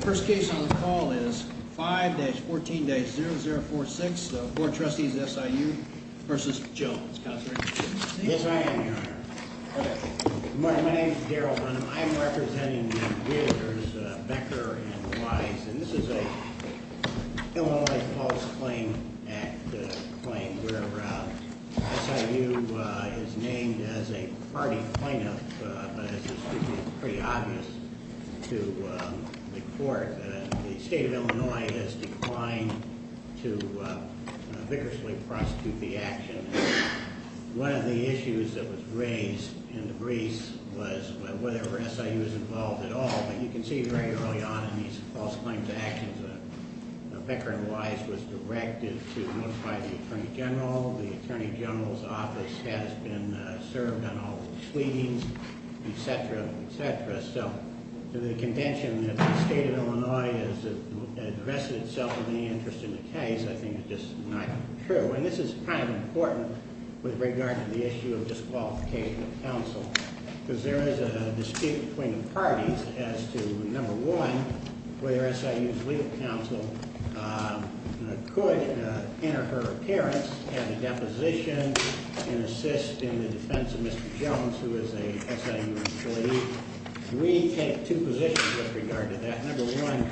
First case on the call is 5-14-0046, Board of Trustees of SIU v. Jones. Counselor? Yes, I am, Your Honor. Good morning. My name is Daryl Hunnam. I am representing the Realtors, Becker and Weiss. And this is a Illinois Public Claims Act claim, where SIU is named as a party plaintiff. But it's pretty obvious to the Court that the State of Illinois has declined to vigorously prosecute the action. One of the issues that was raised in the briefs was whether SIU was involved at all. But you can see very early on in these false claims actions, Becker and Weiss was directed to notify the Attorney General. The Attorney General's office has been served on all the proceedings, etc., etc. So the contention that the State of Illinois has invested itself in any interest in the case, I think is just not true. And this is kind of important with regard to the issue of disqualification of counsel. Because there is a dispute between the parties as to, number one, whether SIU's legal counsel could enter her appearance at a deposition and assist in the defense of Mr. Jones, who is a SIU employee. We take two positions with regard to that. Number one,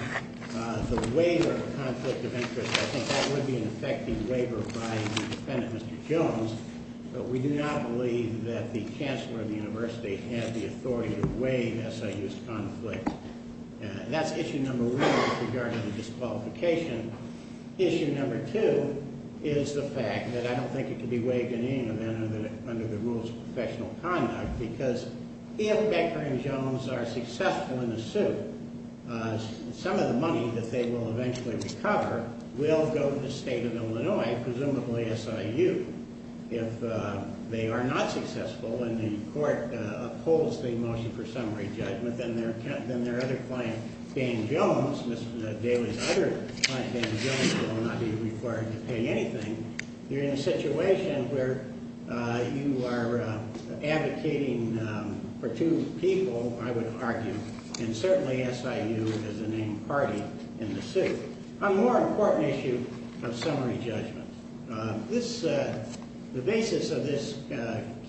the waiver of conflict of interest, I think that would be an effective waiver by the defendant, Mr. Jones. But we do not believe that the chancellor of the university had the authority to waive SIU's conflict. That's issue number one with regard to the disqualification. Issue number two is the fact that I don't think it could be waived in any manner under the rules of professional conduct. Because if Becker and Jones are successful in the suit, some of the money that they will eventually recover will go to the State of Illinois, presumably SIU. If they are not successful and the court upholds the motion for summary judgment, then their other client, Dan Jones, Miss Daly's other client, Dan Jones, will not be required to pay anything. You're in a situation where you are advocating for two people, I would argue, and certainly SIU is the main party in the suit. A more important issue of summary judgment. The basis of this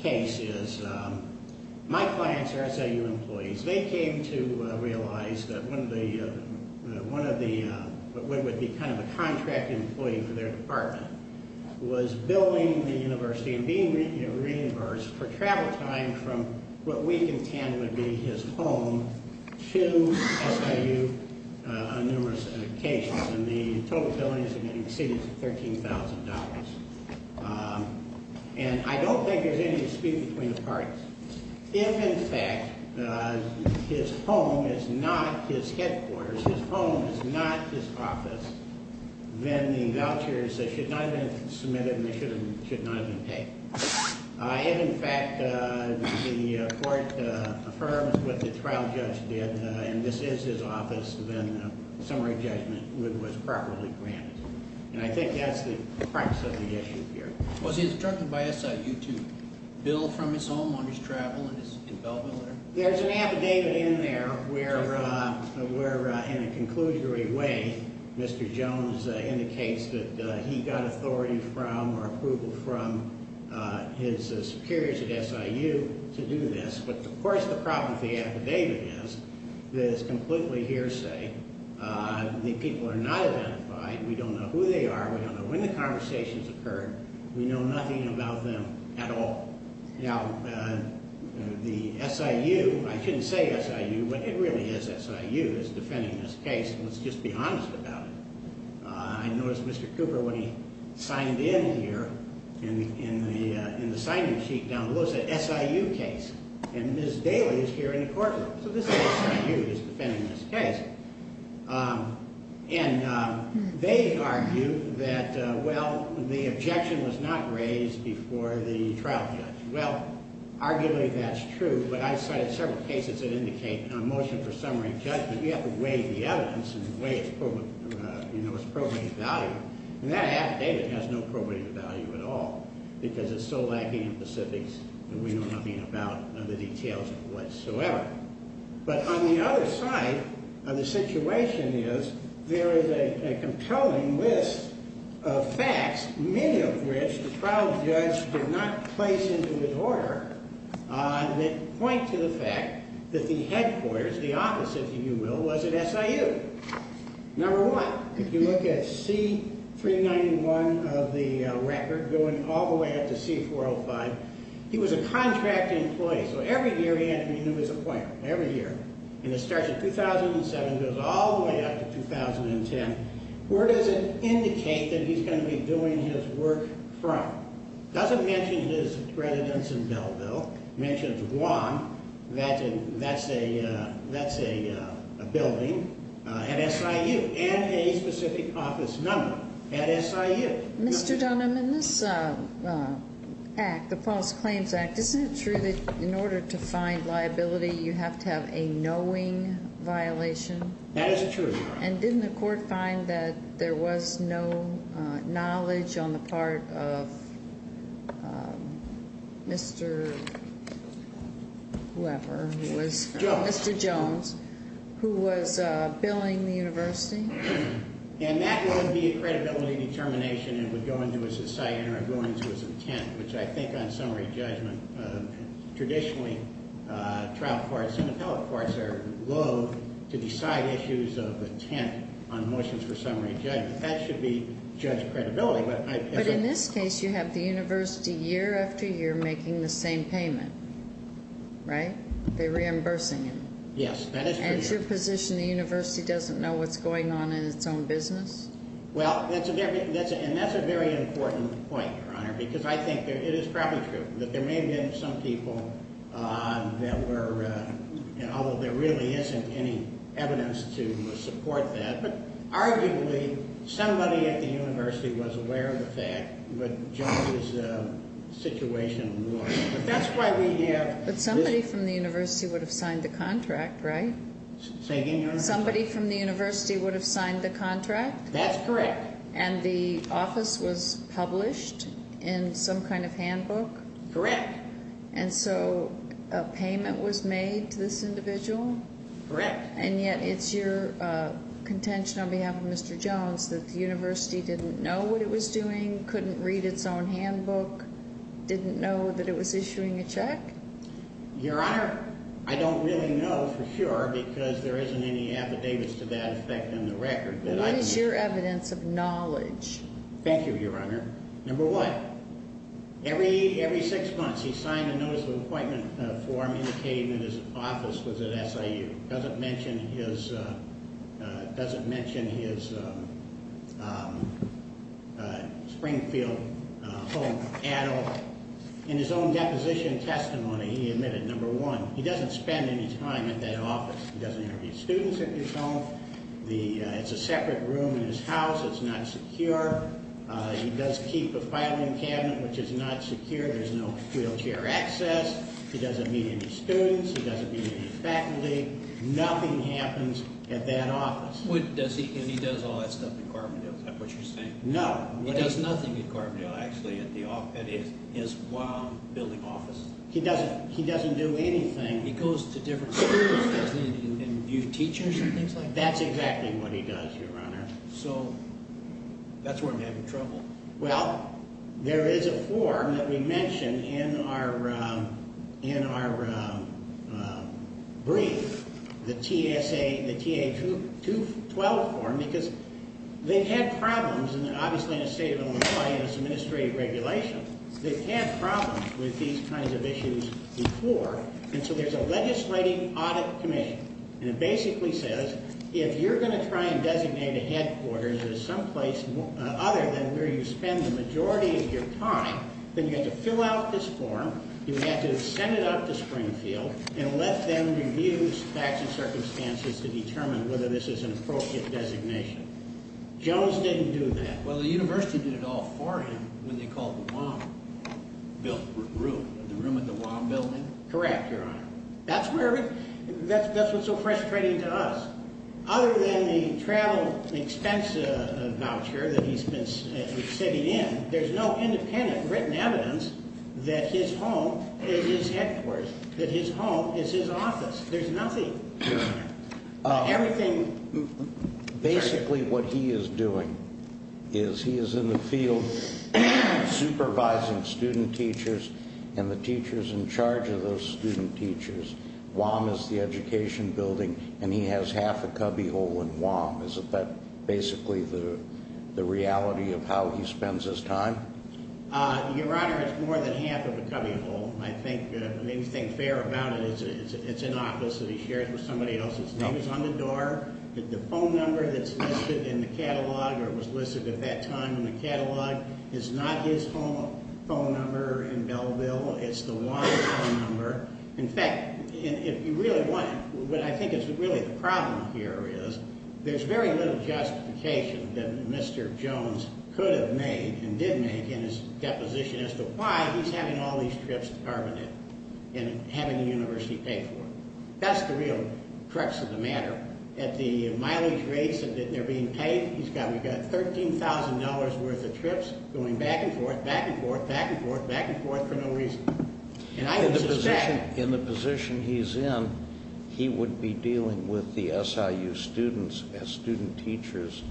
case is my clients are SIU employees. They came to realize that one of the, what would be kind of a contract employee for their department, was billing the university and being reimbursed for travel time from what we contend would be his home to SIU on numerous occasions. And the total billings have exceeded $13,000. And I don't think there's any dispute between the parties. If in fact his home is not his headquarters, his home is not his office, then the vouchers should not have been submitted and they should not have been paid. If in fact the court affirms what the trial judge did, and this is his office, then summary judgment was properly granted. And I think that's the crux of the issue here. Was he instructed by SIU to bill from his home on his travel and his involvement there? There's an affidavit in there where in a conclusionary way Mr. Jones indicates that he got authority from or approval from his superiors at SIU to do this. But of course the problem with the affidavit is that it's completely hearsay. The people are not identified. We don't know who they are. We don't know when the conversations occurred. We know nothing about them at all. Now, the SIU, I shouldn't say SIU, but it really is SIU that's defending this case. Let's just be honest about it. I noticed Mr. Cooper when he signed in here in the signing sheet down below said SIU case. And Ms. Daly is here in the courtroom. So this is SIU that's defending this case. And they argue that, well, the objection was not raised before the trial judge. Well, arguably that's true, but I cited several cases that indicate a motion for summary of judgment. We have to weigh the evidence and weigh its probative value. And that affidavit has no probative value at all because it's so lacking in specifics that we know nothing about the details whatsoever. But on the other side of the situation is there is a compelling list of facts, many of which the trial judge did not place into his order, that point to the fact that the headquarters, the office, if you will, was at SIU. Number one, if you look at C391 of the record going all the way up to C405, he was a contract employee. So every year he had to renew his appointment, every year. And it starts in 2007 and goes all the way up to 2010. Where does it indicate that he's going to be doing his work from? It doesn't mention his residence in Belleville. It mentions Guam. That's a building at SIU and a specific office number at SIU. Mr. Dunham, in this act, the False Claims Act, isn't it true that in order to find liability you have to have a knowing violation? That is true. And didn't the court find that there was no knowledge on the part of Mr. Weber, Mr. Jones, who was billing the university? And that would be a credibility determination and would go into his assignment or go into his intent, which I think on summary judgment traditionally trial courts and appellate courts are low to decide issues of intent on motions for summary judgment. That should be judge credibility. But in this case you have the university year after year making the same payment, right? They're reimbursing him. Yes, that is true. Is it your position the university doesn't know what's going on in its own business? Well, and that's a very important point, Your Honor, because I think it is probably true that there may have been some people that were, although there really isn't any evidence to support that, but arguably somebody at the university was aware of the fact that Jones' situation was. But somebody from the university would have signed the contract, right? Say again, Your Honor? Somebody from the university would have signed the contract? That's correct. And the office was published in some kind of handbook? Correct. And so a payment was made to this individual? Correct. And yet it's your contention on behalf of Mr. Jones that the university didn't know what it was doing, couldn't read its own handbook, didn't know that it was issuing a check? Your Honor, I don't really know for sure because there isn't any affidavits to that effect in the record. What is your evidence of knowledge? Thank you, Your Honor. Number one, every six months he signed a notice of appointment form indicating that his office was at SIU. It doesn't mention his Springfield home at all. In his own deposition testimony, he admitted, number one, he doesn't spend any time at that office. He doesn't interview students at his home. It's a separate room in his house. It's not secure. He does keep a filing cabinet, which is not secure. There's no wheelchair access. He doesn't meet any students. He doesn't meet any faculty. Nothing happens at that office. And he does all that stuff at Carbondale, is that what you're saying? No. He does nothing at Carbondale, actually, at his building office. He doesn't do anything. He goes to different schools, doesn't he, and view teachers and things like that? That's exactly what he does, Your Honor. So that's where I'm having trouble. Well, there is a form that we mentioned in our brief, the TA-212 form, because they've had problems, and obviously in the state of Illinois, it's administrative regulation. They've had problems with these kinds of issues before. And so there's a legislating audit committee, and it basically says, if you're going to try and designate a headquarters at someplace other than where you spend the majority of your time, then you have to fill out this form, you have to send it out to Springfield, and let them review the facts and circumstances to determine whether this is an appropriate designation. Jones didn't do that. Well, the university did it all for him when they called the ROM built room, the room at the ROM building. Correct, Your Honor. That's what's so frustrating to us. Other than the travel expense voucher that he's been sitting in, there's no independent written evidence that his home is his headquarters, that his home is his office. There's nothing. Everything. Basically what he is doing is he is in the field supervising student teachers and the teachers in charge of those student teachers. ROM is the education building, and he has half a cubbyhole in ROM. Isn't that basically the reality of how he spends his time? Your Honor, it's more than half of a cubbyhole. I think anything fair about it is it's an office that he shares with somebody else. His name is on the door. The phone number that's listed in the catalog or was listed at that time in the catalog is not his phone number in Belleville. It's the ROM phone number. In fact, if you really want it, what I think is really the problem here is there's very little justification that Mr. Jones could have made and did make in his deposition as to why he's having all these trips departmented and having the university pay for it. That's the real crux of the matter. At the mileage rates that they're being paid, we've got $13,000 worth of trips going back and forth, back and forth, back and forth, back and forth for no reason. In the position he's in, he would be dealing with the SIU students as student teachers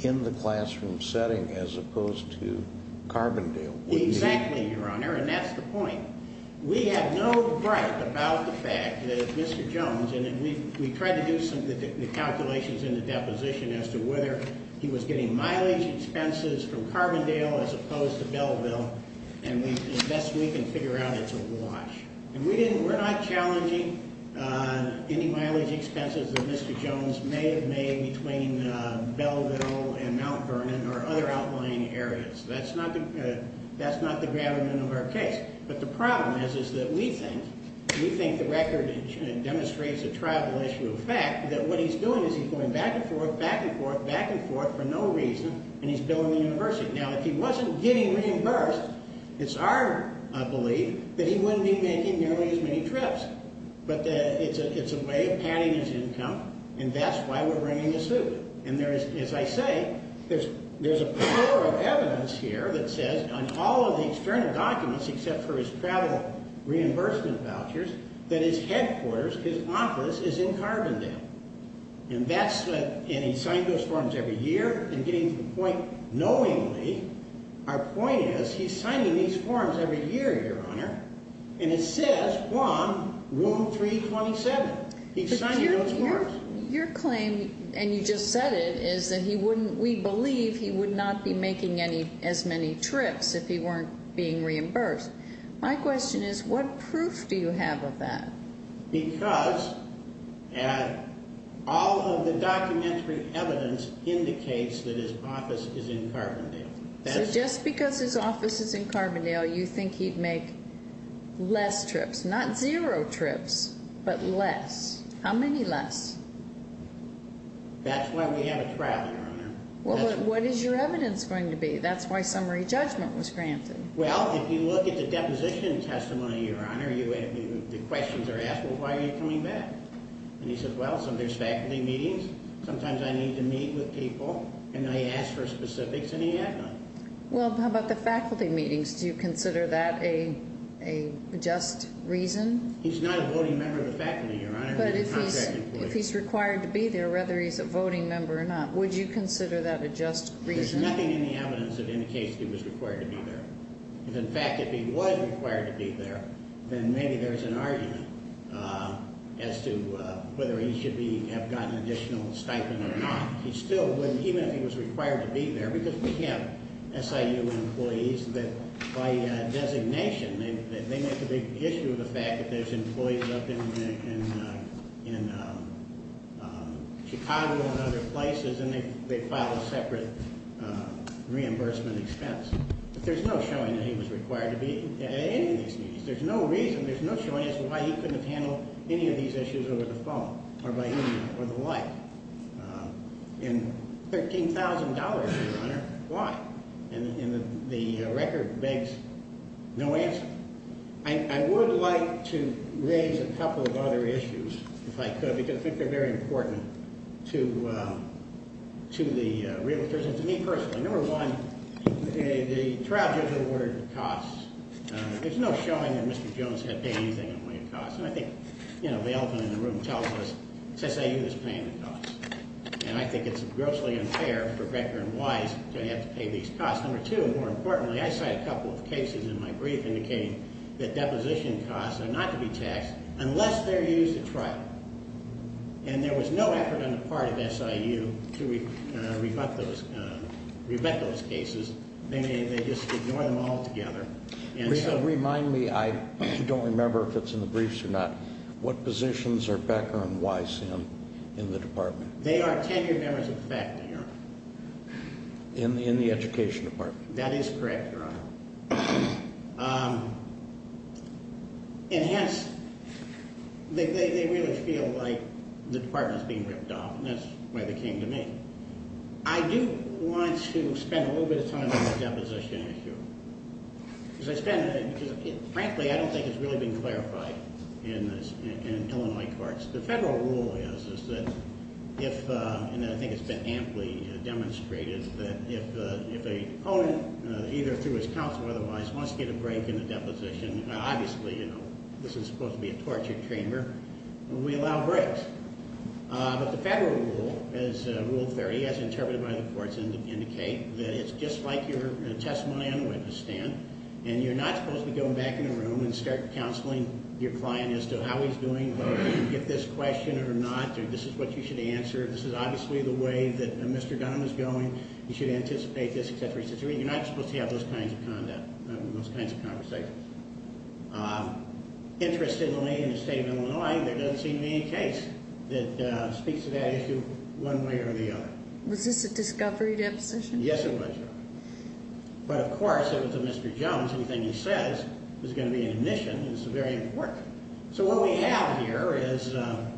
in the classroom setting as opposed to Carbondale. Exactly, Your Honor, and that's the point. We have no right about the fact that Mr. Jones, and we tried to do some calculations in the deposition as to whether he was getting mileage expenses from Carbondale as opposed to Belleville, and the best we can figure out, it's a wash. We're not challenging any mileage expenses that Mr. Jones may have made between Belleville and Mount Vernon or other outlying areas. That's not the gravamen of our case. But the problem is that we think the record demonstrates a tribal issue of fact that what he's doing is he's going back and forth, back and forth, back and forth for no reason, and he's billing the university. Now, if he wasn't getting reimbursed, it's our belief that he wouldn't be making nearly as many trips. But it's a way of padding his income, and that's why we're bringing the suit. And as I say, there's a plethora of evidence here that says on all of the external documents except for his travel reimbursement vouchers that his headquarters, his office, is in Carbondale. And he signed those forms every year, and getting to the point knowingly, our point is he's signing these forms every year, Your Honor, and it says on Room 327, he's signing those forms. But your claim, and you just said it, is that we believe he would not be making as many trips if he weren't being reimbursed. My question is, what proof do you have of that? Because all of the documentary evidence indicates that his office is in Carbondale. So just because his office is in Carbondale, you think he'd make less trips, not zero trips, but less. How many less? That's why we have a trial, Your Honor. Well, but what is your evidence going to be? That's why summary judgment was granted. Well, if you look at the deposition testimony, Your Honor, the questions are asked, well, why are you coming back? And he says, well, sometimes faculty meetings, sometimes I need to meet with people, and I ask for specifics, and he had none. Well, how about the faculty meetings? Do you consider that a just reason? He's not a voting member of the faculty, Your Honor. But if he's required to be there, whether he's a voting member or not, would you consider that a just reason? There's nothing in the evidence that indicates he was required to be there. In fact, if he was required to be there, then maybe there's an argument as to whether he should have gotten additional stipend or not. He still wouldn't, even if he was required to be there, because we have SIU employees that by designation, they make the big issue of the fact that there's employees up in Chicago and other places, and they file a separate reimbursement expense. But there's no showing that he was required to be at any of these meetings. There's no reason, there's no showing as to why he couldn't have handled any of these issues over the phone or by email or the like. And $13,000, Your Honor, why? And the record begs no answer. I would like to raise a couple of other issues, if I could, because I think they're very important to the Realtors and to me personally. Number one, the trial judge awarded costs. There's no showing that Mr. Jones had paid anything in the way of costs. And I think, you know, the elephant in the room tells us, SIU is paying the costs. And I think it's grossly unfair for Becker and Weiss to have to pay these costs. Number two, more importantly, I cite a couple of cases in my brief indicating that deposition costs are not to be taxed unless they're used at trial. And there was no effort on the part of SIU to rebut those cases. They just ignore them altogether. And so remind me, I don't remember if it's in the briefs or not, what positions are Becker and Weiss in in the department? They are tenured members of the faculty, Your Honor. In the education department? That is correct, Your Honor. And hence, they really feel like the department is being ripped off, and that's the way they came to me. I do want to spend a little bit of time on the deposition issue. Frankly, I don't think it's really been clarified in Illinois courts. The federal rule is, and I think it's been amply demonstrated, that if an opponent, either through his counsel or otherwise, wants to get a break in the deposition, obviously, you know, this is supposed to be a torture chamber, we allow breaks. But the federal rule, Rule 30, as interpreted by the courts, indicates that it's just like your testimony on the witness stand, and you're not supposed to go back in the room and start counseling your client as to how he's doing, whether he can get this question or not, or this is what you should answer, this is obviously the way that Mr. Dunham is going, you should anticipate this, etc., etc. You're not supposed to have those kinds of conversations. Interestingly, in the state of Illinois, there doesn't seem to be any case that speaks to that issue one way or the other. Was this a discovery deposition? Yes, it was. But of course, it was a Mr. Jones, anything he says is going to be an admission, and it's very important. So what we have here is a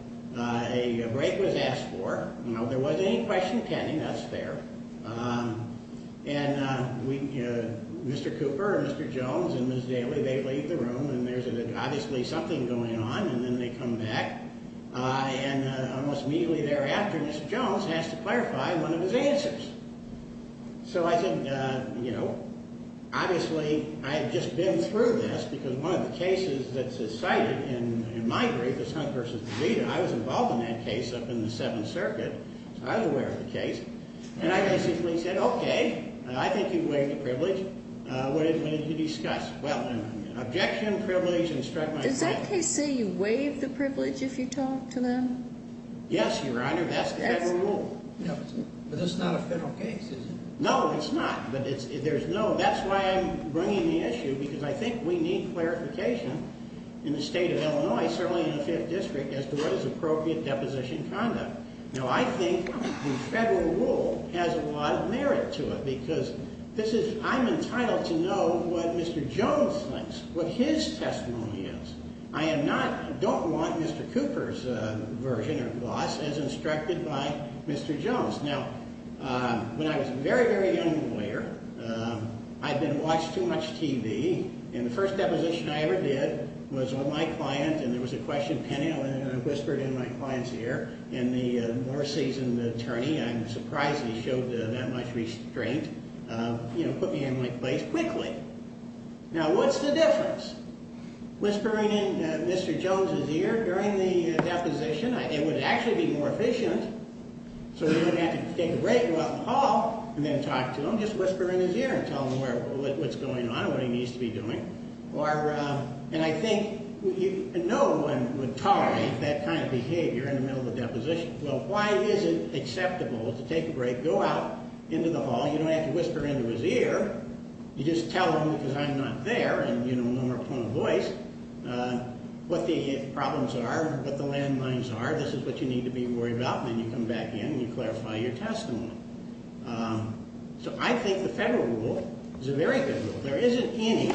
break was asked for. There wasn't any question pending, that's fair. And Mr. Cooper and Mr. Jones and Ms. Daly, they leave the room, and there's obviously something going on, and then they come back, and almost immediately thereafter, Mr. Jones has to clarify one of his answers. So I said, you know, obviously I've just been through this, because one of the cases that's cited in my brief is Hunt v. DeVita. I was involved in that case up in the Seventh Circuit, so I was aware of the case. And I basically said, okay, I think you've waived the privilege. What is it we need to discuss? Well, objection, privilege, instruct myself. Does that case say you waived the privilege if you talk to them? Yes, Your Honor, that's the federal rule. But that's not a federal case, is it? No, it's not. That's why I'm bringing the issue, because I think we need clarification in the state of Illinois, certainly in the Fifth District, as to what is appropriate deposition conduct. Now, I think the federal rule has a lot of merit to it, because I'm entitled to know what Mr. Jones thinks, what his testimony is. I don't want Mr. Cooper's version or gloss as instructed by Mr. Jones. Now, when I was a very, very young lawyer, I'd been watching too much TV, and the first deposition I ever did was with my client, and there was a question pending, and I whispered in my client's ear, and the more seasoned attorney, I'm surprised he showed that much restraint, put me in my place quickly. Now, what's the difference? Whispering in Mr. Jones' ear during the deposition, it would actually be more efficient, so he wouldn't have to take a break and go out in the hall and then talk to him, just whisper in his ear and tell him what's going on and what he needs to be doing. And I think no one would tolerate that kind of behavior in the middle of a deposition. Well, why is it acceptable to take a break, go out into the hall, you don't have to whisper into his ear, you just tell him because I'm not there and, you know, no more point of voice, what the problems are, what the landmines are, this is what you need to be worried about, and then you come back in and you clarify your testimony. So I think the federal rule is a very good rule. There isn't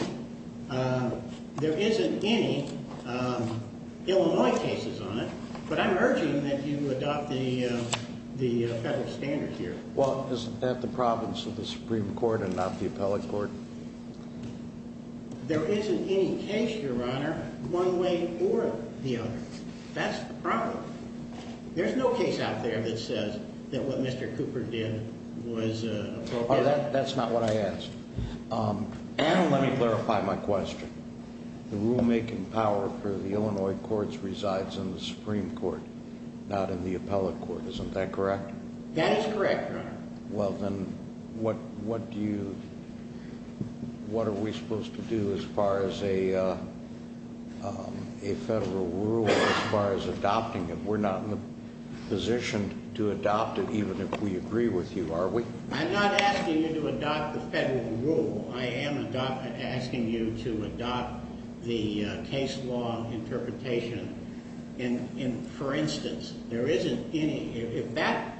any Illinois cases on it, but I'm urging that you adopt the federal standards here. Well, isn't that the province of the Supreme Court and not the appellate court? There isn't any case, Your Honor, one way or the other. That's the problem. There's no case out there that says that what Mr. Cooper did was appropriate. Your Honor, that's not what I asked. And let me clarify my question. The rulemaking power for the Illinois courts resides in the Supreme Court, not in the appellate court. Isn't that correct? That is correct, Your Honor. Well, then what are we supposed to do as far as a federal rule or as far as adopting it? We're not in a position to adopt it even if we agree with you, are we? I'm not asking you to adopt the federal rule. I am asking you to adopt the case law interpretation. For instance, if that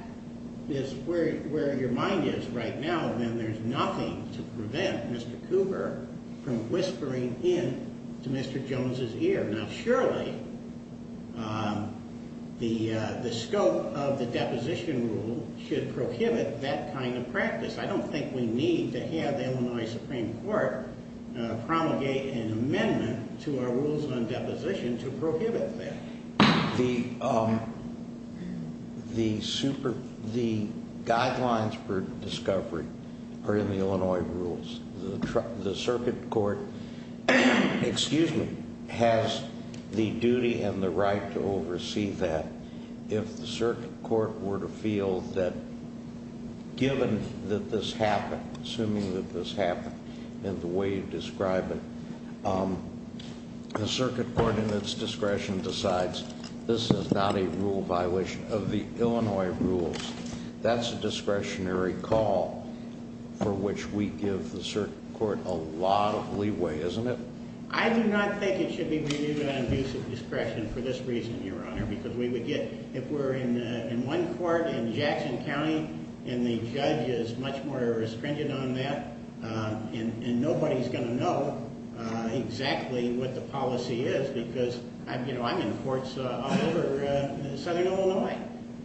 is where your mind is right now, then there's nothing to prevent Mr. Cooper from whispering in to Mr. Jones' ear. Now, surely the scope of the deposition rule should prohibit that kind of practice. I don't think we need to have the Illinois Supreme Court promulgate an amendment to our rules on deposition to prohibit that. The guidelines for discovery are in the Illinois rules. The circuit court has the duty and the right to oversee that. If the circuit court were to feel that given that this happened, assuming that this happened in the way you describe it, the circuit court in its discretion decides this is not a rule violation of the Illinois rules. That's a discretionary call for which we give the circuit court a lot of leeway, isn't it? I do not think it should be renewed on abuse of discretion for this reason, Your Honor, because we would get – if we're in one court in Jackson County and the judge is much more restringent on that, and nobody's going to know exactly what the policy is because I'm in courts all over southern Illinois.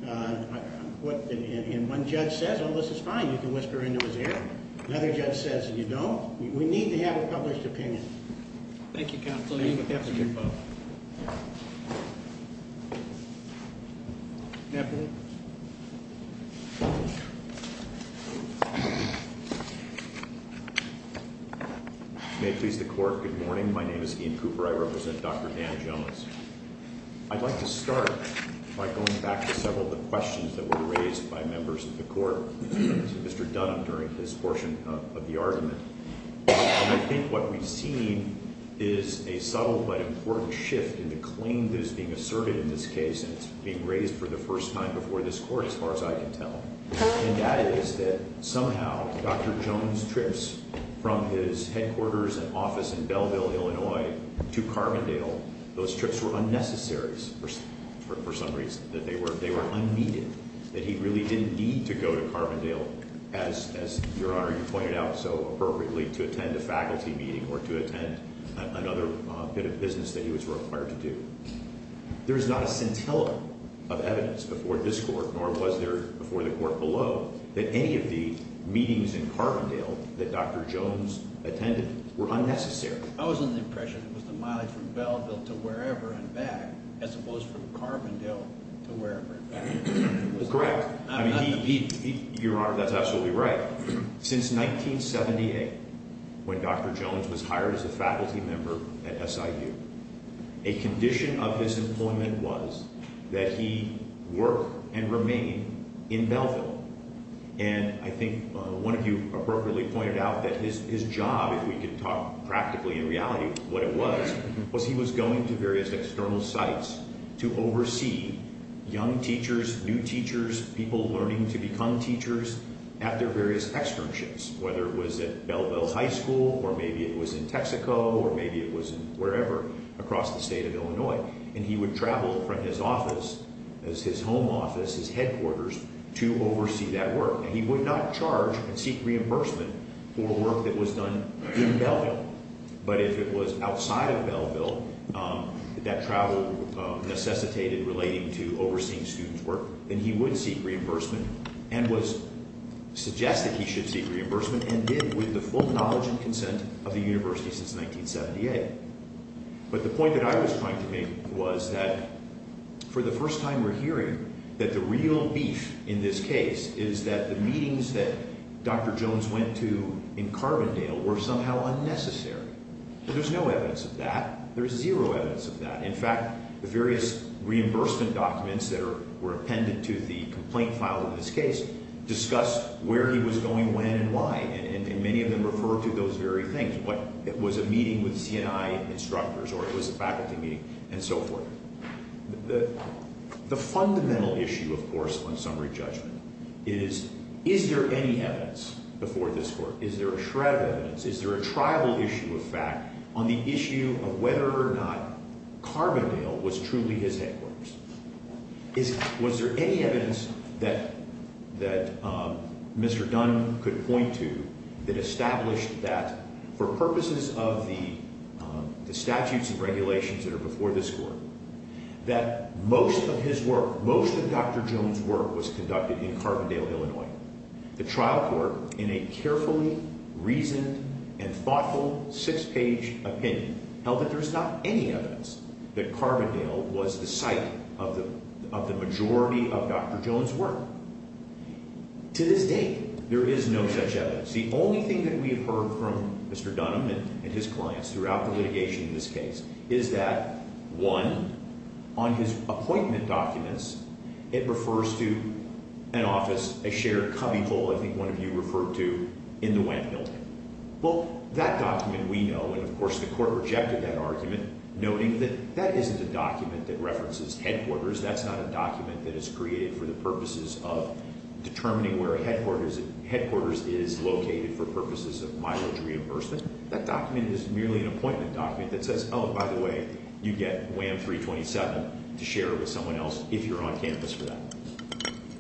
And one judge says, oh, this is fine, you can whisper into his ear. Another judge says, you know, we need to have a published opinion. Thank you, counsel. Thank you. May it please the court, good morning. My name is Ian Cooper. I represent Dr. Dan Jones. I'd like to start by going back to several of the questions that were raised by members of the court to Mr. Dunham during this portion of the argument. And I think what we've seen is a subtle but important shift in the claim that is being asserted in this case, and it's being raised for the first time before this court as far as I can tell. And that is that somehow Dr. Jones trips from his headquarters and office in Belleville, Illinois, to Carbondale. Those trips were unnecessary for some reason, that they were unneeded, that he really didn't need to go to Carbondale, as, Your Honor, you pointed out so appropriately, to attend a faculty meeting or to attend another bit of business that he was required to do. There is not a scintilla of evidence before this court, nor was there before the court below, that any of the meetings in Carbondale that Dr. Jones attended were unnecessary. I was under the impression it was the mileage from Belleville to wherever and back, as opposed to from Carbondale to wherever and back. Correct. Your Honor, that's absolutely right. Since 1978, when Dr. Jones was hired as a faculty member at SIU, a condition of his employment was that he work and remain in Belleville. And I think one of you appropriately pointed out that his job, if we could talk practically in reality what it was, was he was going to various external sites to oversee young teachers, new teachers, people learning to become teachers at their various externships, whether it was at Belleville High School or maybe it was in Texaco or maybe it was in wherever across the state of Illinois. And he would travel from his office, his home office, his headquarters, to oversee that work. And he would not charge and seek reimbursement for work that was done in Belleville. But if it was outside of Belleville, that travel necessitated relating to overseeing students' work, then he would seek reimbursement and was suggested he should seek reimbursement, and did with the full knowledge and consent of the university since 1978. But the point that I was trying to make was that for the first time we're hearing that the real beef in this case is that the meetings that Dr. Jones went to in Carbondale were somehow unnecessary. There's no evidence of that. There's zero evidence of that. In fact, the various reimbursement documents that were appended to the complaint file of this case discussed where he was going, when, and why. And many of them refer to those very things. It was a meeting with C&I instructors or it was a faculty meeting and so forth. The fundamental issue, of course, on summary judgment is, is there any evidence before this court? Is there a shred of evidence? Is there a tribal issue of fact on the issue of whether or not Carbondale was truly his headquarters? Was there any evidence that Mr. Dunn could point to that established that for purposes of the statutes and regulations that are before this court, that most of his work, most of Dr. Jones' work was conducted in Carbondale, Illinois? The trial court, in a carefully reasoned and thoughtful six-page opinion, held that there is not any evidence that Carbondale was the site of the majority of Dr. Jones' work. To this day, there is no such evidence. The only thing that we have heard from Mr. Dunn and his clients throughout the litigation in this case is that, one, on his appointment documents, it refers to an office, a shared cubbyhole, I think one of you referred to, in the Wendt Building. Well, that document we know, and of course the court rejected that argument, noting that that isn't a document that references headquarters. That's not a document that is created for the purposes of determining where headquarters is located for purposes of mileage reimbursement. That document is merely an appointment document that says, oh, by the way, you get WAM 327 to share with someone else if you're on campus for that.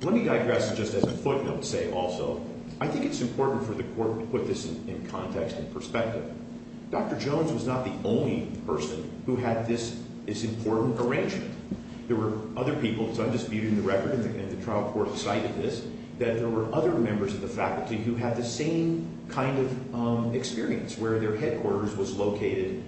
Let me digress just as a footnote, say, also. I think it's important for the court to put this in context and perspective. Dr. Jones was not the only person who had this important arrangement. There were other people, so I'm just muting the record, and the trial court cited this, that there were other members of the faculty who had the same kind of experience, where their headquarters was located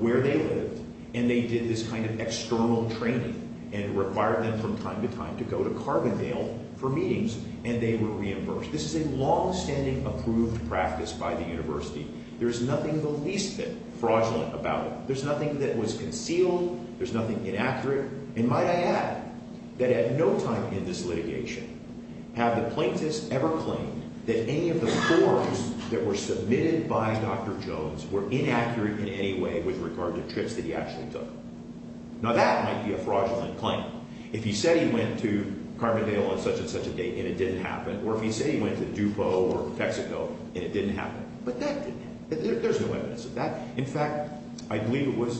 where they lived, and they did this kind of external training and required them from time to time to go to Carbondale for meetings, and they were reimbursed. This is a longstanding approved practice by the university. There is nothing the least bit fraudulent about it. There's nothing that was concealed. There's nothing inaccurate. And might I add that at no time in this litigation have the plaintiffs ever claimed that any of the forms that were submitted by Dr. Jones were inaccurate in any way with regard to trips that he actually took. Now, that might be a fraudulent claim. If he said he went to Carbondale on such and such a date and it didn't happen, or if he said he went to Dupo or Texaco and it didn't happen. But that didn't happen. There's no evidence of that. In fact, I believe it was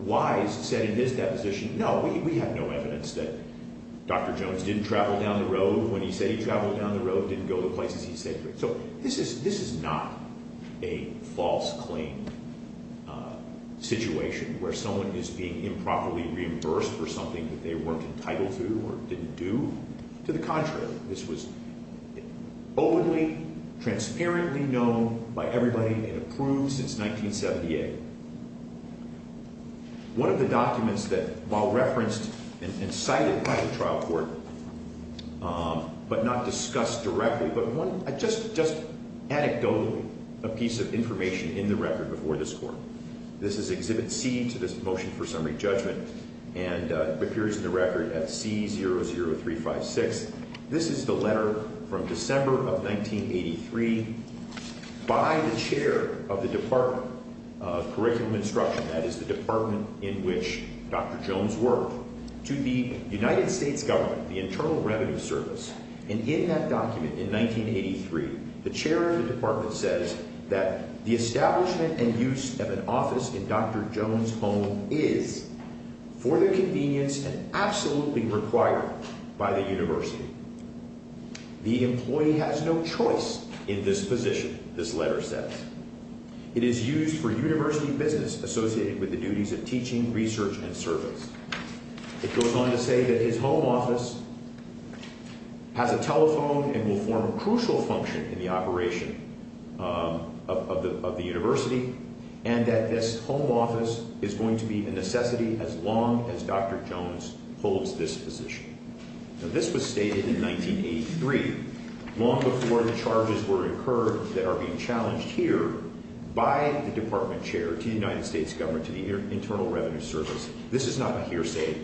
Wise who said in his deposition, no, we have no evidence that Dr. Jones didn't travel down the road when he said he traveled down the road, didn't go to places he said he did. So this is not a false claim situation where someone is being improperly reimbursed for something that they weren't entitled to or didn't do. To the contrary, this was openly, transparently known by everybody and approved since 1978. One of the documents that while referenced and cited by the trial court, but not discussed directly, but just anecdotally a piece of information in the record before this court. This is Exhibit C to this motion for summary judgment and appears in the record at C00356. This is the letter from December of 1983 by the chair of the Department of Curriculum Instruction, that is the department in which Dr. Jones worked, to the United States government, the Internal Revenue Service. And in that document in 1983, the chair of the department says that the establishment and use of an office in Dr. Jones' home is for the convenience and absolutely required by the university. The employee has no choice in this position, this letter says. It is used for university business associated with the duties of teaching, research, and service. It goes on to say that his home office has a telephone and will form a crucial function in the operation of the university and that this home office is going to be a necessity as long as Dr. Jones holds this position. This was stated in 1983, long before the charges were incurred that are being challenged here by the department chair to the United States government, to the Internal Revenue Service. This is not a hearsay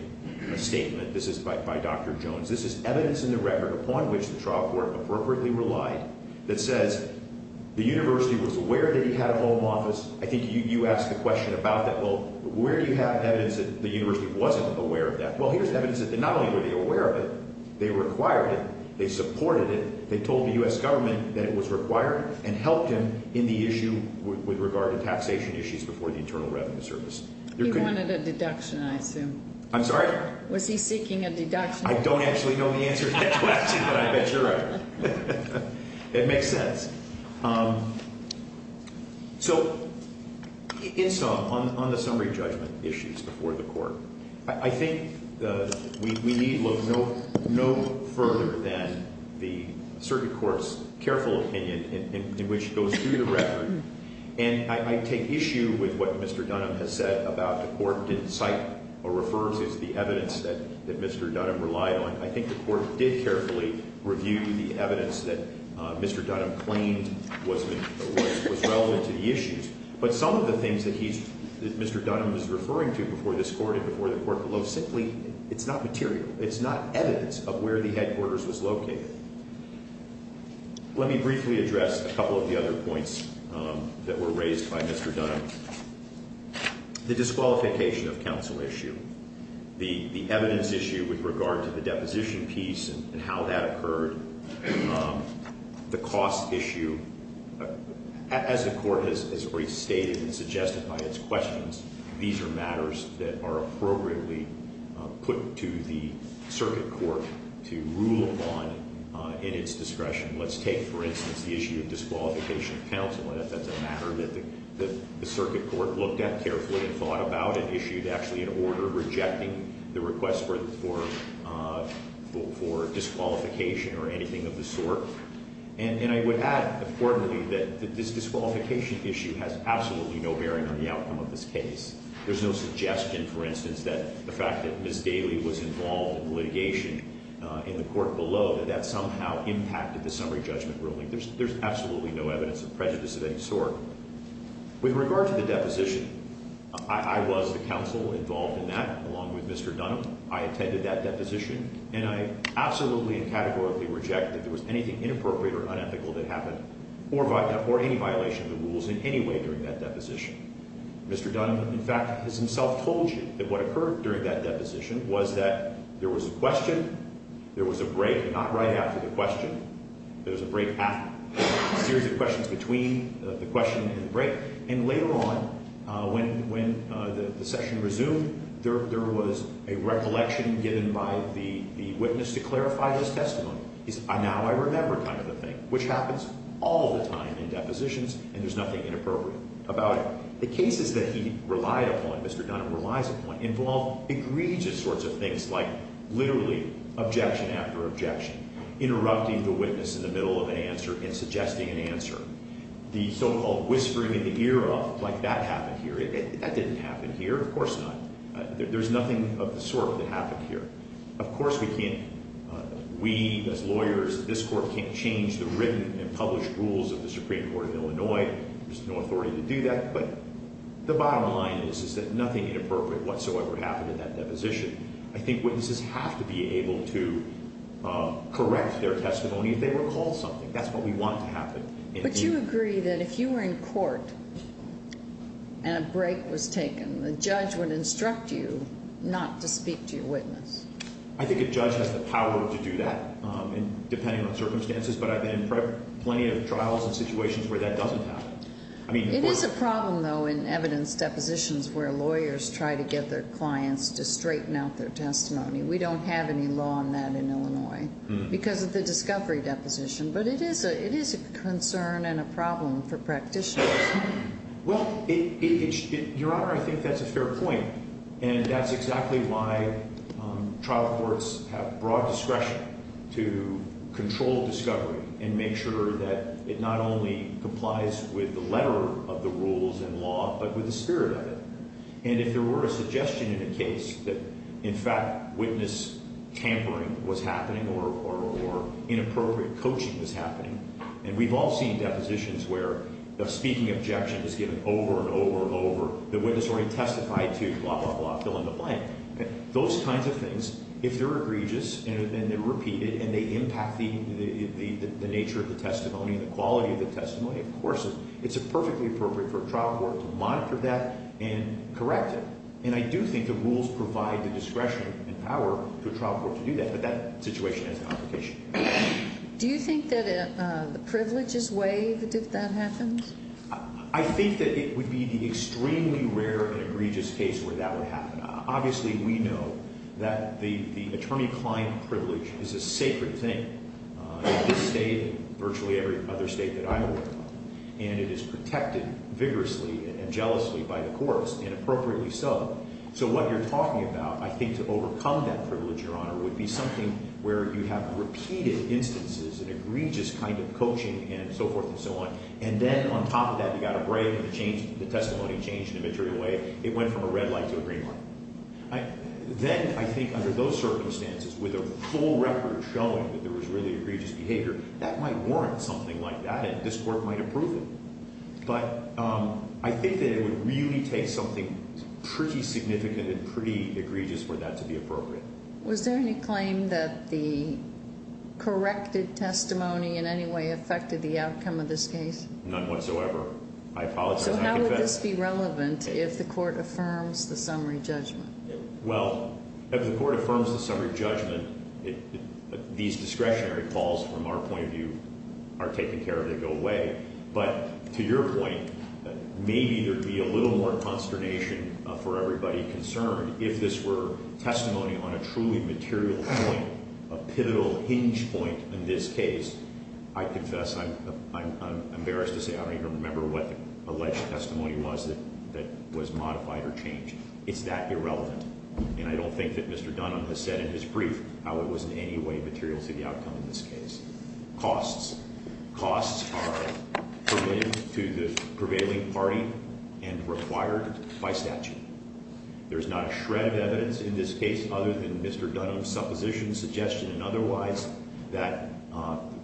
statement, this is by Dr. Jones, this is evidence in the record upon which the trial court appropriately relied that says the university was aware that he had a home office. I think you asked the question about that, well where do you have evidence that the university wasn't aware of that? Well here's evidence that not only were they aware of it, they required it, they supported it, they told the U.S. government that it was required and helped him in the issue with regard to taxation issues before the Internal Revenue Service. He wanted a deduction, I assume. I'm sorry? Was he seeking a deduction? I don't actually know the answer to that question, but I bet you're right. It makes sense. So in sum, on the summary judgment issues before the court, I think we need look no further than the circuit court's careful opinion in which it goes through the record. And I take issue with what Mr. Dunham has said about the court didn't cite or refer to the evidence that Mr. Dunham relied on. I think the court did carefully review the evidence that Mr. Dunham claimed was relevant to the issues. But some of the things that Mr. Dunham was referring to before this court and before the court below, simply it's not material, it's not evidence of where the headquarters was located. Let me briefly address a couple of the other points that were raised by Mr. Dunham. The disqualification of counsel issue, the evidence issue with regard to the deposition piece and how that occurred, the cost issue, as the court has already stated and suggested by its questions, these are matters that are appropriately put to the circuit court to rule upon in its discretion. Let's take, for instance, the issue of disqualification of counsel and if that's a matter that the circuit court looked at carefully and thought about and issued actually an order rejecting the request for disqualification or anything of the sort. And I would add, importantly, that this disqualification issue has absolutely no bearing on the outcome of this case. There's no suggestion, for instance, that the fact that Ms. Daly was involved in litigation in the court below, that that somehow impacted the summary judgment ruling. There's absolutely no evidence of prejudice of any sort. With regard to the deposition, I was the counsel involved in that along with Mr. Dunham. I attended that deposition and I absolutely and categorically reject that there was anything inappropriate or unethical that happened or any violation of the rules in any way during that deposition. Mr. Dunham, in fact, has himself told you that what occurred during that deposition was that there was a question, there was a break, not right after the question, there was a break after, a series of questions between the question and the break. And later on, when the session resumed, there was a recollection given by the witness to clarify this testimony. He said, now I remember kind of the thing, which happens all the time in depositions and there's nothing inappropriate about it. The cases that he relied upon, Mr. Dunham relies upon, involve egregious sorts of things like literally objection after objection, interrupting the witness in the middle of an answer and suggesting an answer. The so-called whispering in the ear of, like that happened here. That didn't happen here. Of course not. There's nothing of the sort that happened here. Of course we can't, we as lawyers, this court can't change the written and published rules of the Supreme Court of Illinois. There's no authority to do that. But the bottom line is that nothing inappropriate whatsoever happened in that deposition. I think witnesses have to be able to correct their testimony if they recall something. That's what we want to happen. But you agree that if you were in court and a break was taken, the judge would instruct you not to speak to your witness? I think a judge has the power to do that, depending on circumstances. But I've been in plenty of trials and situations where that doesn't happen. It is a problem, though, in evidence depositions where lawyers try to get their clients to straighten out their testimony. We don't have any law on that in Illinois because of the discovery deposition. But it is a concern and a problem for practitioners. Well, Your Honor, I think that's a fair point. And that's exactly why trial courts have broad discretion to control discovery and make sure that it not only complies with the letter of the rules and law but with the spirit of it. And if there were a suggestion in a case that, in fact, witness tampering was happening or inappropriate coaching was happening, and we've all seen depositions where the speaking objection is given over and over and over, the witness already testified to blah, blah, blah, fill in the blank, those kinds of things, if they're egregious and they're repeated and they impact the nature of the testimony and the quality of the testimony, of course it's perfectly appropriate for a trial court to monitor that and correct it. And I do think the rules provide the discretion and power for a trial court to do that. But that situation is a complication. Do you think that the privilege is waived if that happens? I think that it would be the extremely rare and egregious case where that would happen. Obviously, we know that the attorney-client privilege is a sacred thing in this state and virtually every other state that I work in. And it is protected vigorously and jealously by the courts, and appropriately so. So what you're talking about, I think, to overcome that privilege, Your Honor, would be something where you have repeated instances of egregious kind of coaching and so forth and so on. And then on top of that, you've got a break and the testimony changed in a material way. It went from a red light to a green light. Then I think under those circumstances, with a full record showing that there was really egregious behavior, that might warrant something like that and this Court might approve it. But I think that it would really take something pretty significant and pretty egregious for that to be appropriate. Was there any claim that the corrected testimony in any way affected the outcome of this case? None whatsoever. I apologize. I confess. So how would this be relevant if the Court affirms the summary judgment? Well, if the Court affirms the summary judgment, these discretionary calls, from our point of view, are taken care of. They go away. But to your point, maybe there would be a little more consternation for everybody concerned if this were testimony on a truly material point, a pivotal hinge point in this case. I confess, I'm embarrassed to say I don't even remember what the alleged testimony was that was modified or changed. It's that irrelevant. And I don't think that Mr. Dunham has said in his brief how it was in any way material to the outcome of this case. Costs. Costs are permitted to the prevailing party and required by statute. There's not a shred of evidence in this case other than Mr. Dunham's supposition, suggestion, and otherwise that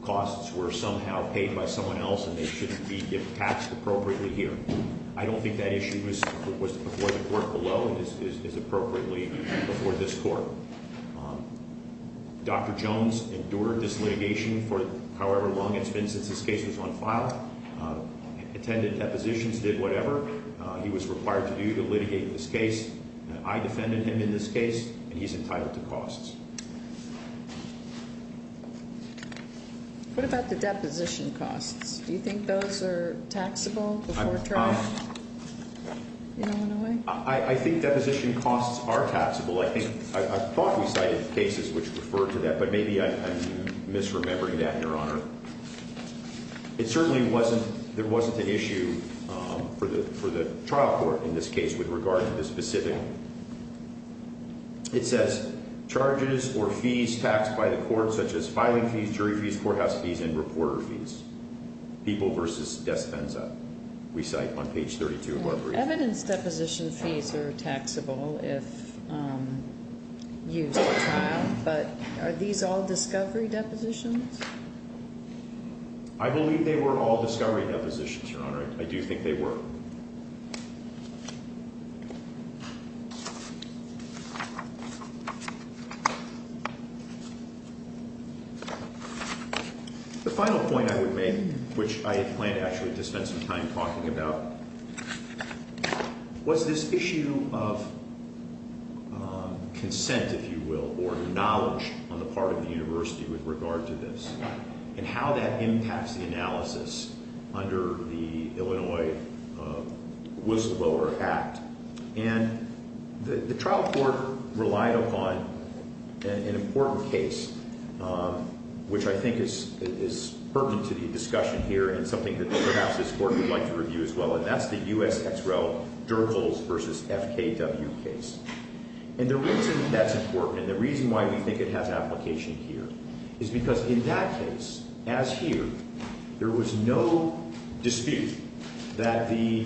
costs were somehow paid by someone else and they shouldn't be taxed appropriately here. I don't think that issue was before the Court below. It is appropriately before this Court. Dr. Jones endured this litigation for however long it's been since this case was on file. Attended depositions, did whatever he was required to do to litigate this case. I defended him in this case, and he's entitled to costs. What about the deposition costs? Do you think those are taxable before trial? I think deposition costs are taxable. I thought we cited cases which referred to that, but maybe I'm misremembering that, Your Honor. It certainly wasn't, there wasn't an issue for the trial court in this case with regard to the specific. It says charges or fees taxed by the court such as filing fees, jury fees, courthouse fees, and reporter fees. People versus despensa, we cite on page 32 of our brief. Evidence deposition fees are taxable if used at trial, but are these all discovery depositions? I believe they were all discovery depositions, Your Honor. I do think they were. The final point I would make, which I plan to actually just spend some time talking about, was this issue of consent, if you will, or knowledge on the part of the university with regard to this, and how that impacts the analysis under the Illinois Whistleblower Act. And the trial court relied upon an important case, which I think is pertinent to the discussion here, and something that perhaps this court would like to review as well, and that's the U.S. Ex Rel. Durgles v. FKW case. And the reason that's important, and the reason why we think it has application here, is because in that case, as here, there was no dispute that the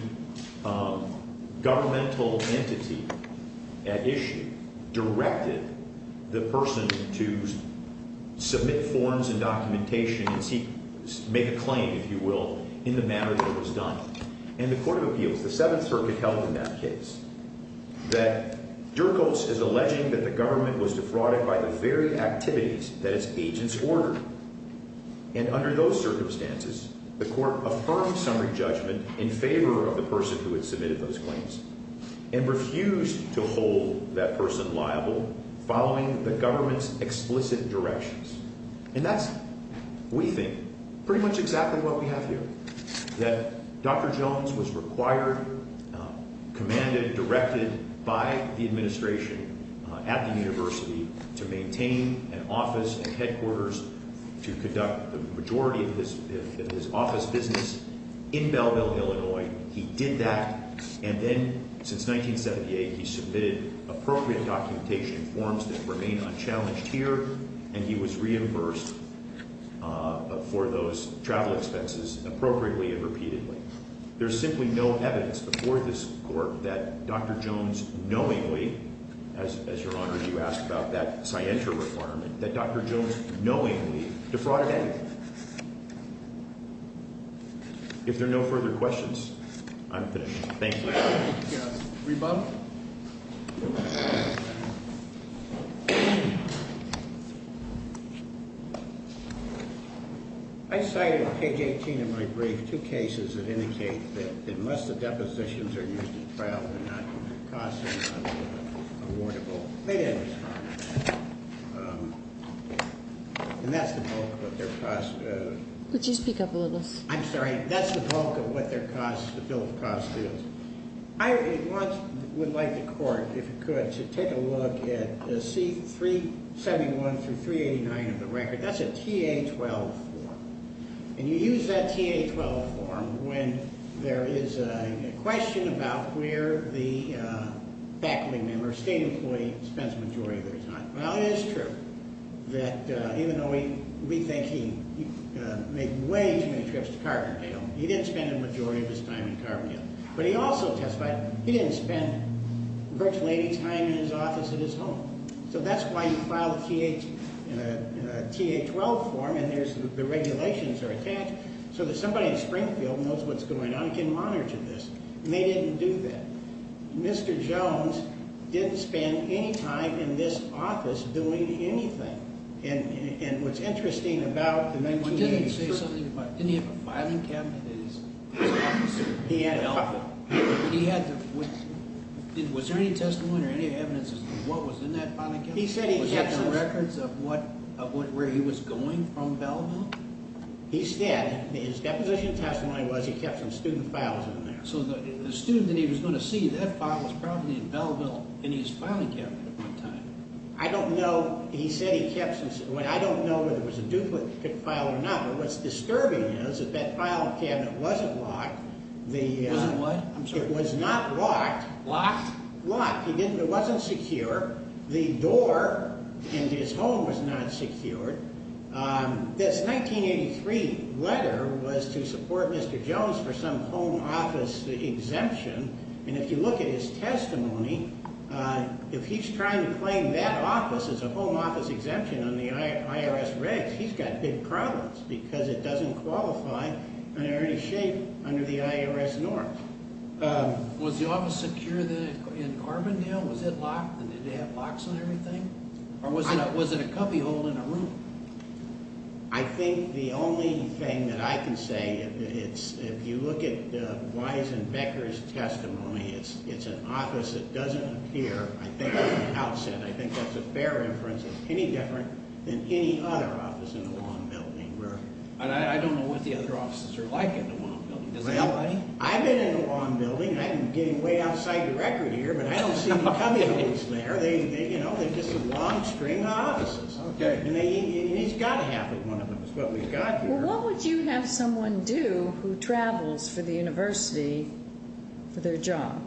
governmental entity at issue directed the person to submit forms and documentation and make a claim, if you will, in the manner that was done. And the Court of Appeals, the Seventh Circuit, held in that case that Durgles is alleging that the government was defrauded by the very activities that its agents ordered. And under those circumstances, the court affirmed summary judgment in favor of the person who had submitted those claims and refused to hold that person liable following the government's explicit directions. And that's, we think, pretty much exactly what we have here, that Dr. Jones was required, commanded, directed by the administration at the university to maintain an office, a headquarters, to conduct the majority of his office business in Belleville, Illinois. He did that, and then since 1978, he submitted appropriate documentation forms that remain unchallenged here, and he was reimbursed for those travel expenses appropriately and repeatedly. There's simply no evidence before this court that Dr. Jones knowingly, as Your Honor, you asked about that scienter requirement, that Dr. Jones knowingly defrauded anything. If there are no further questions, I'm finished. Thank you. Rebuttal. I cited page 18 of my brief, two cases that indicate that unless the depositions are used in trial, they're not going to cost any money, they're not going to be awardable. They did respond, and that's the bulk of what their cost- Could you speak up a little? I'm sorry. That's the bulk of what their cost, the bill of cost is. I would like the court, if it could, to take a look at C-371 through 389 of the record. That's a TA-12 form, and you use that TA-12 form when there is a question about where the faculty member, state employee, spends the majority of their time. Well, it is true that even though we think he made way too many trips to Carbondale, he didn't spend the majority of his time in Carbondale. But he also testified he didn't spend virtually any time in his office at his home. So that's why you file a TA-12 form, and the regulations are attached, so that somebody in Springfield knows what's going on and can monitor this. And they didn't do that. Mr. Jones didn't spend any time in this office doing anything. And what's interesting about- Didn't he have a filing cabinet in his office? He had a couple. Was there any testimony or any evidence of what was in that filing cabinet? He said he kept the records of where he was going from Belleville. He said his deposition testimony was he kept some student files in there. So the student that he was going to see, that file was probably in Belleville in his filing cabinet at one time. I don't know. He said he kept some- I don't know whether it was a duplicate file or not, but what's disturbing is that that filing cabinet wasn't locked. It wasn't what? It was not locked. Locked? Locked. It wasn't secure. The door into his home was not secured. This 1983 letter was to support Mr. Jones for some home office exemption. And if you look at his testimony, if he's trying to claim that office as a home office exemption on the IRS regs, he's got big problems because it doesn't qualify under any shape under the IRS norm. Was the office secure in Armandale? Was it locked? Did it have locks on everything? Or was it a cubbyhole in a room? I think the only thing that I can say, if you look at Weisenbecker's testimony, it's an office that doesn't appear, I think, on the outset. I think that's a fair inference. It's any different than any other office in the Long Building. And I don't know what the other offices are like in the Long Building. Does anybody? I've been in the Long Building. I'm getting way outside the record here, but I don't see any cubbyholes there. They're just some long-string offices. And he's got to have at one of them is what we've got here. Well, what would you have someone do who travels for the university for their job?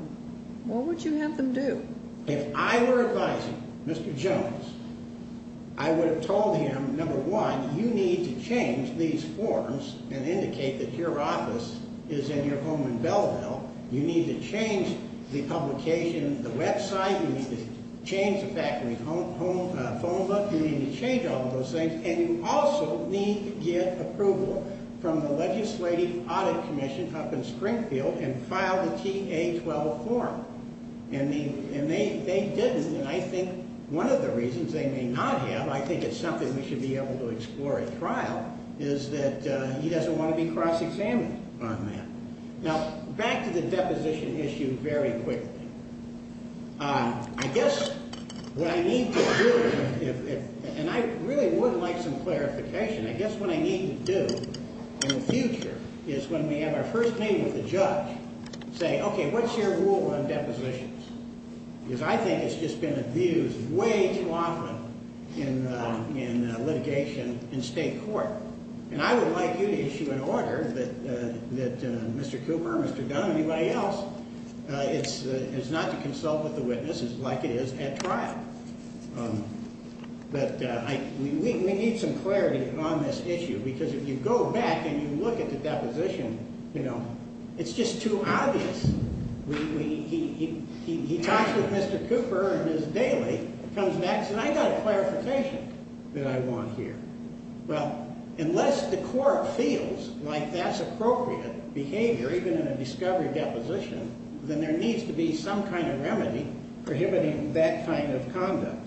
What would you have them do? If I were advising Mr. Jones, I would have told him, number one, you need to change these forms and indicate that your office is in your home in Belleville. You need to change the publication, the website. You need to change the faculty phone book. You need to change all of those things. And you also need to get approval from the Legislative Audit Commission up in Springfield and file the TA-12 form. And they didn't, and I think one of the reasons they may not have, I think it's something we should be able to explore at trial, is that he doesn't want to be cross-examined on that. Now, back to the deposition issue very quickly. I guess what I need to do, and I really would like some clarification, I guess what I need to do in the future is when we have our first meeting with the judge, say, okay, what's your rule on depositions? Because I think it's just been abused way too often in litigation in state court. And I would like you to issue an order that Mr. Cooper, Mr. Dunn, anybody else, is not to consult with the witnesses like it is at trial. But we need some clarity on this issue because if you go back and you look at the deposition, you know, it's just too obvious. He talks with Mr. Cooper in his daily, comes back and says, I've got a clarification that I want here. Well, unless the court feels like that's appropriate behavior, even in a discovery deposition, then there needs to be some kind of remedy prohibiting that kind of conduct.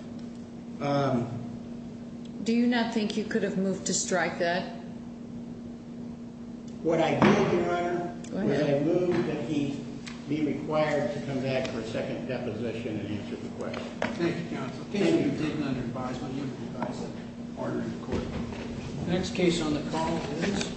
Do you not think you could have moved to strike that? Would I move, Your Honor, would I move that he be required to come back for a second deposition and answer the question? Thank you, counsel. Thank you, David, on your advisement. You've advised the order in court. Next case on the call is.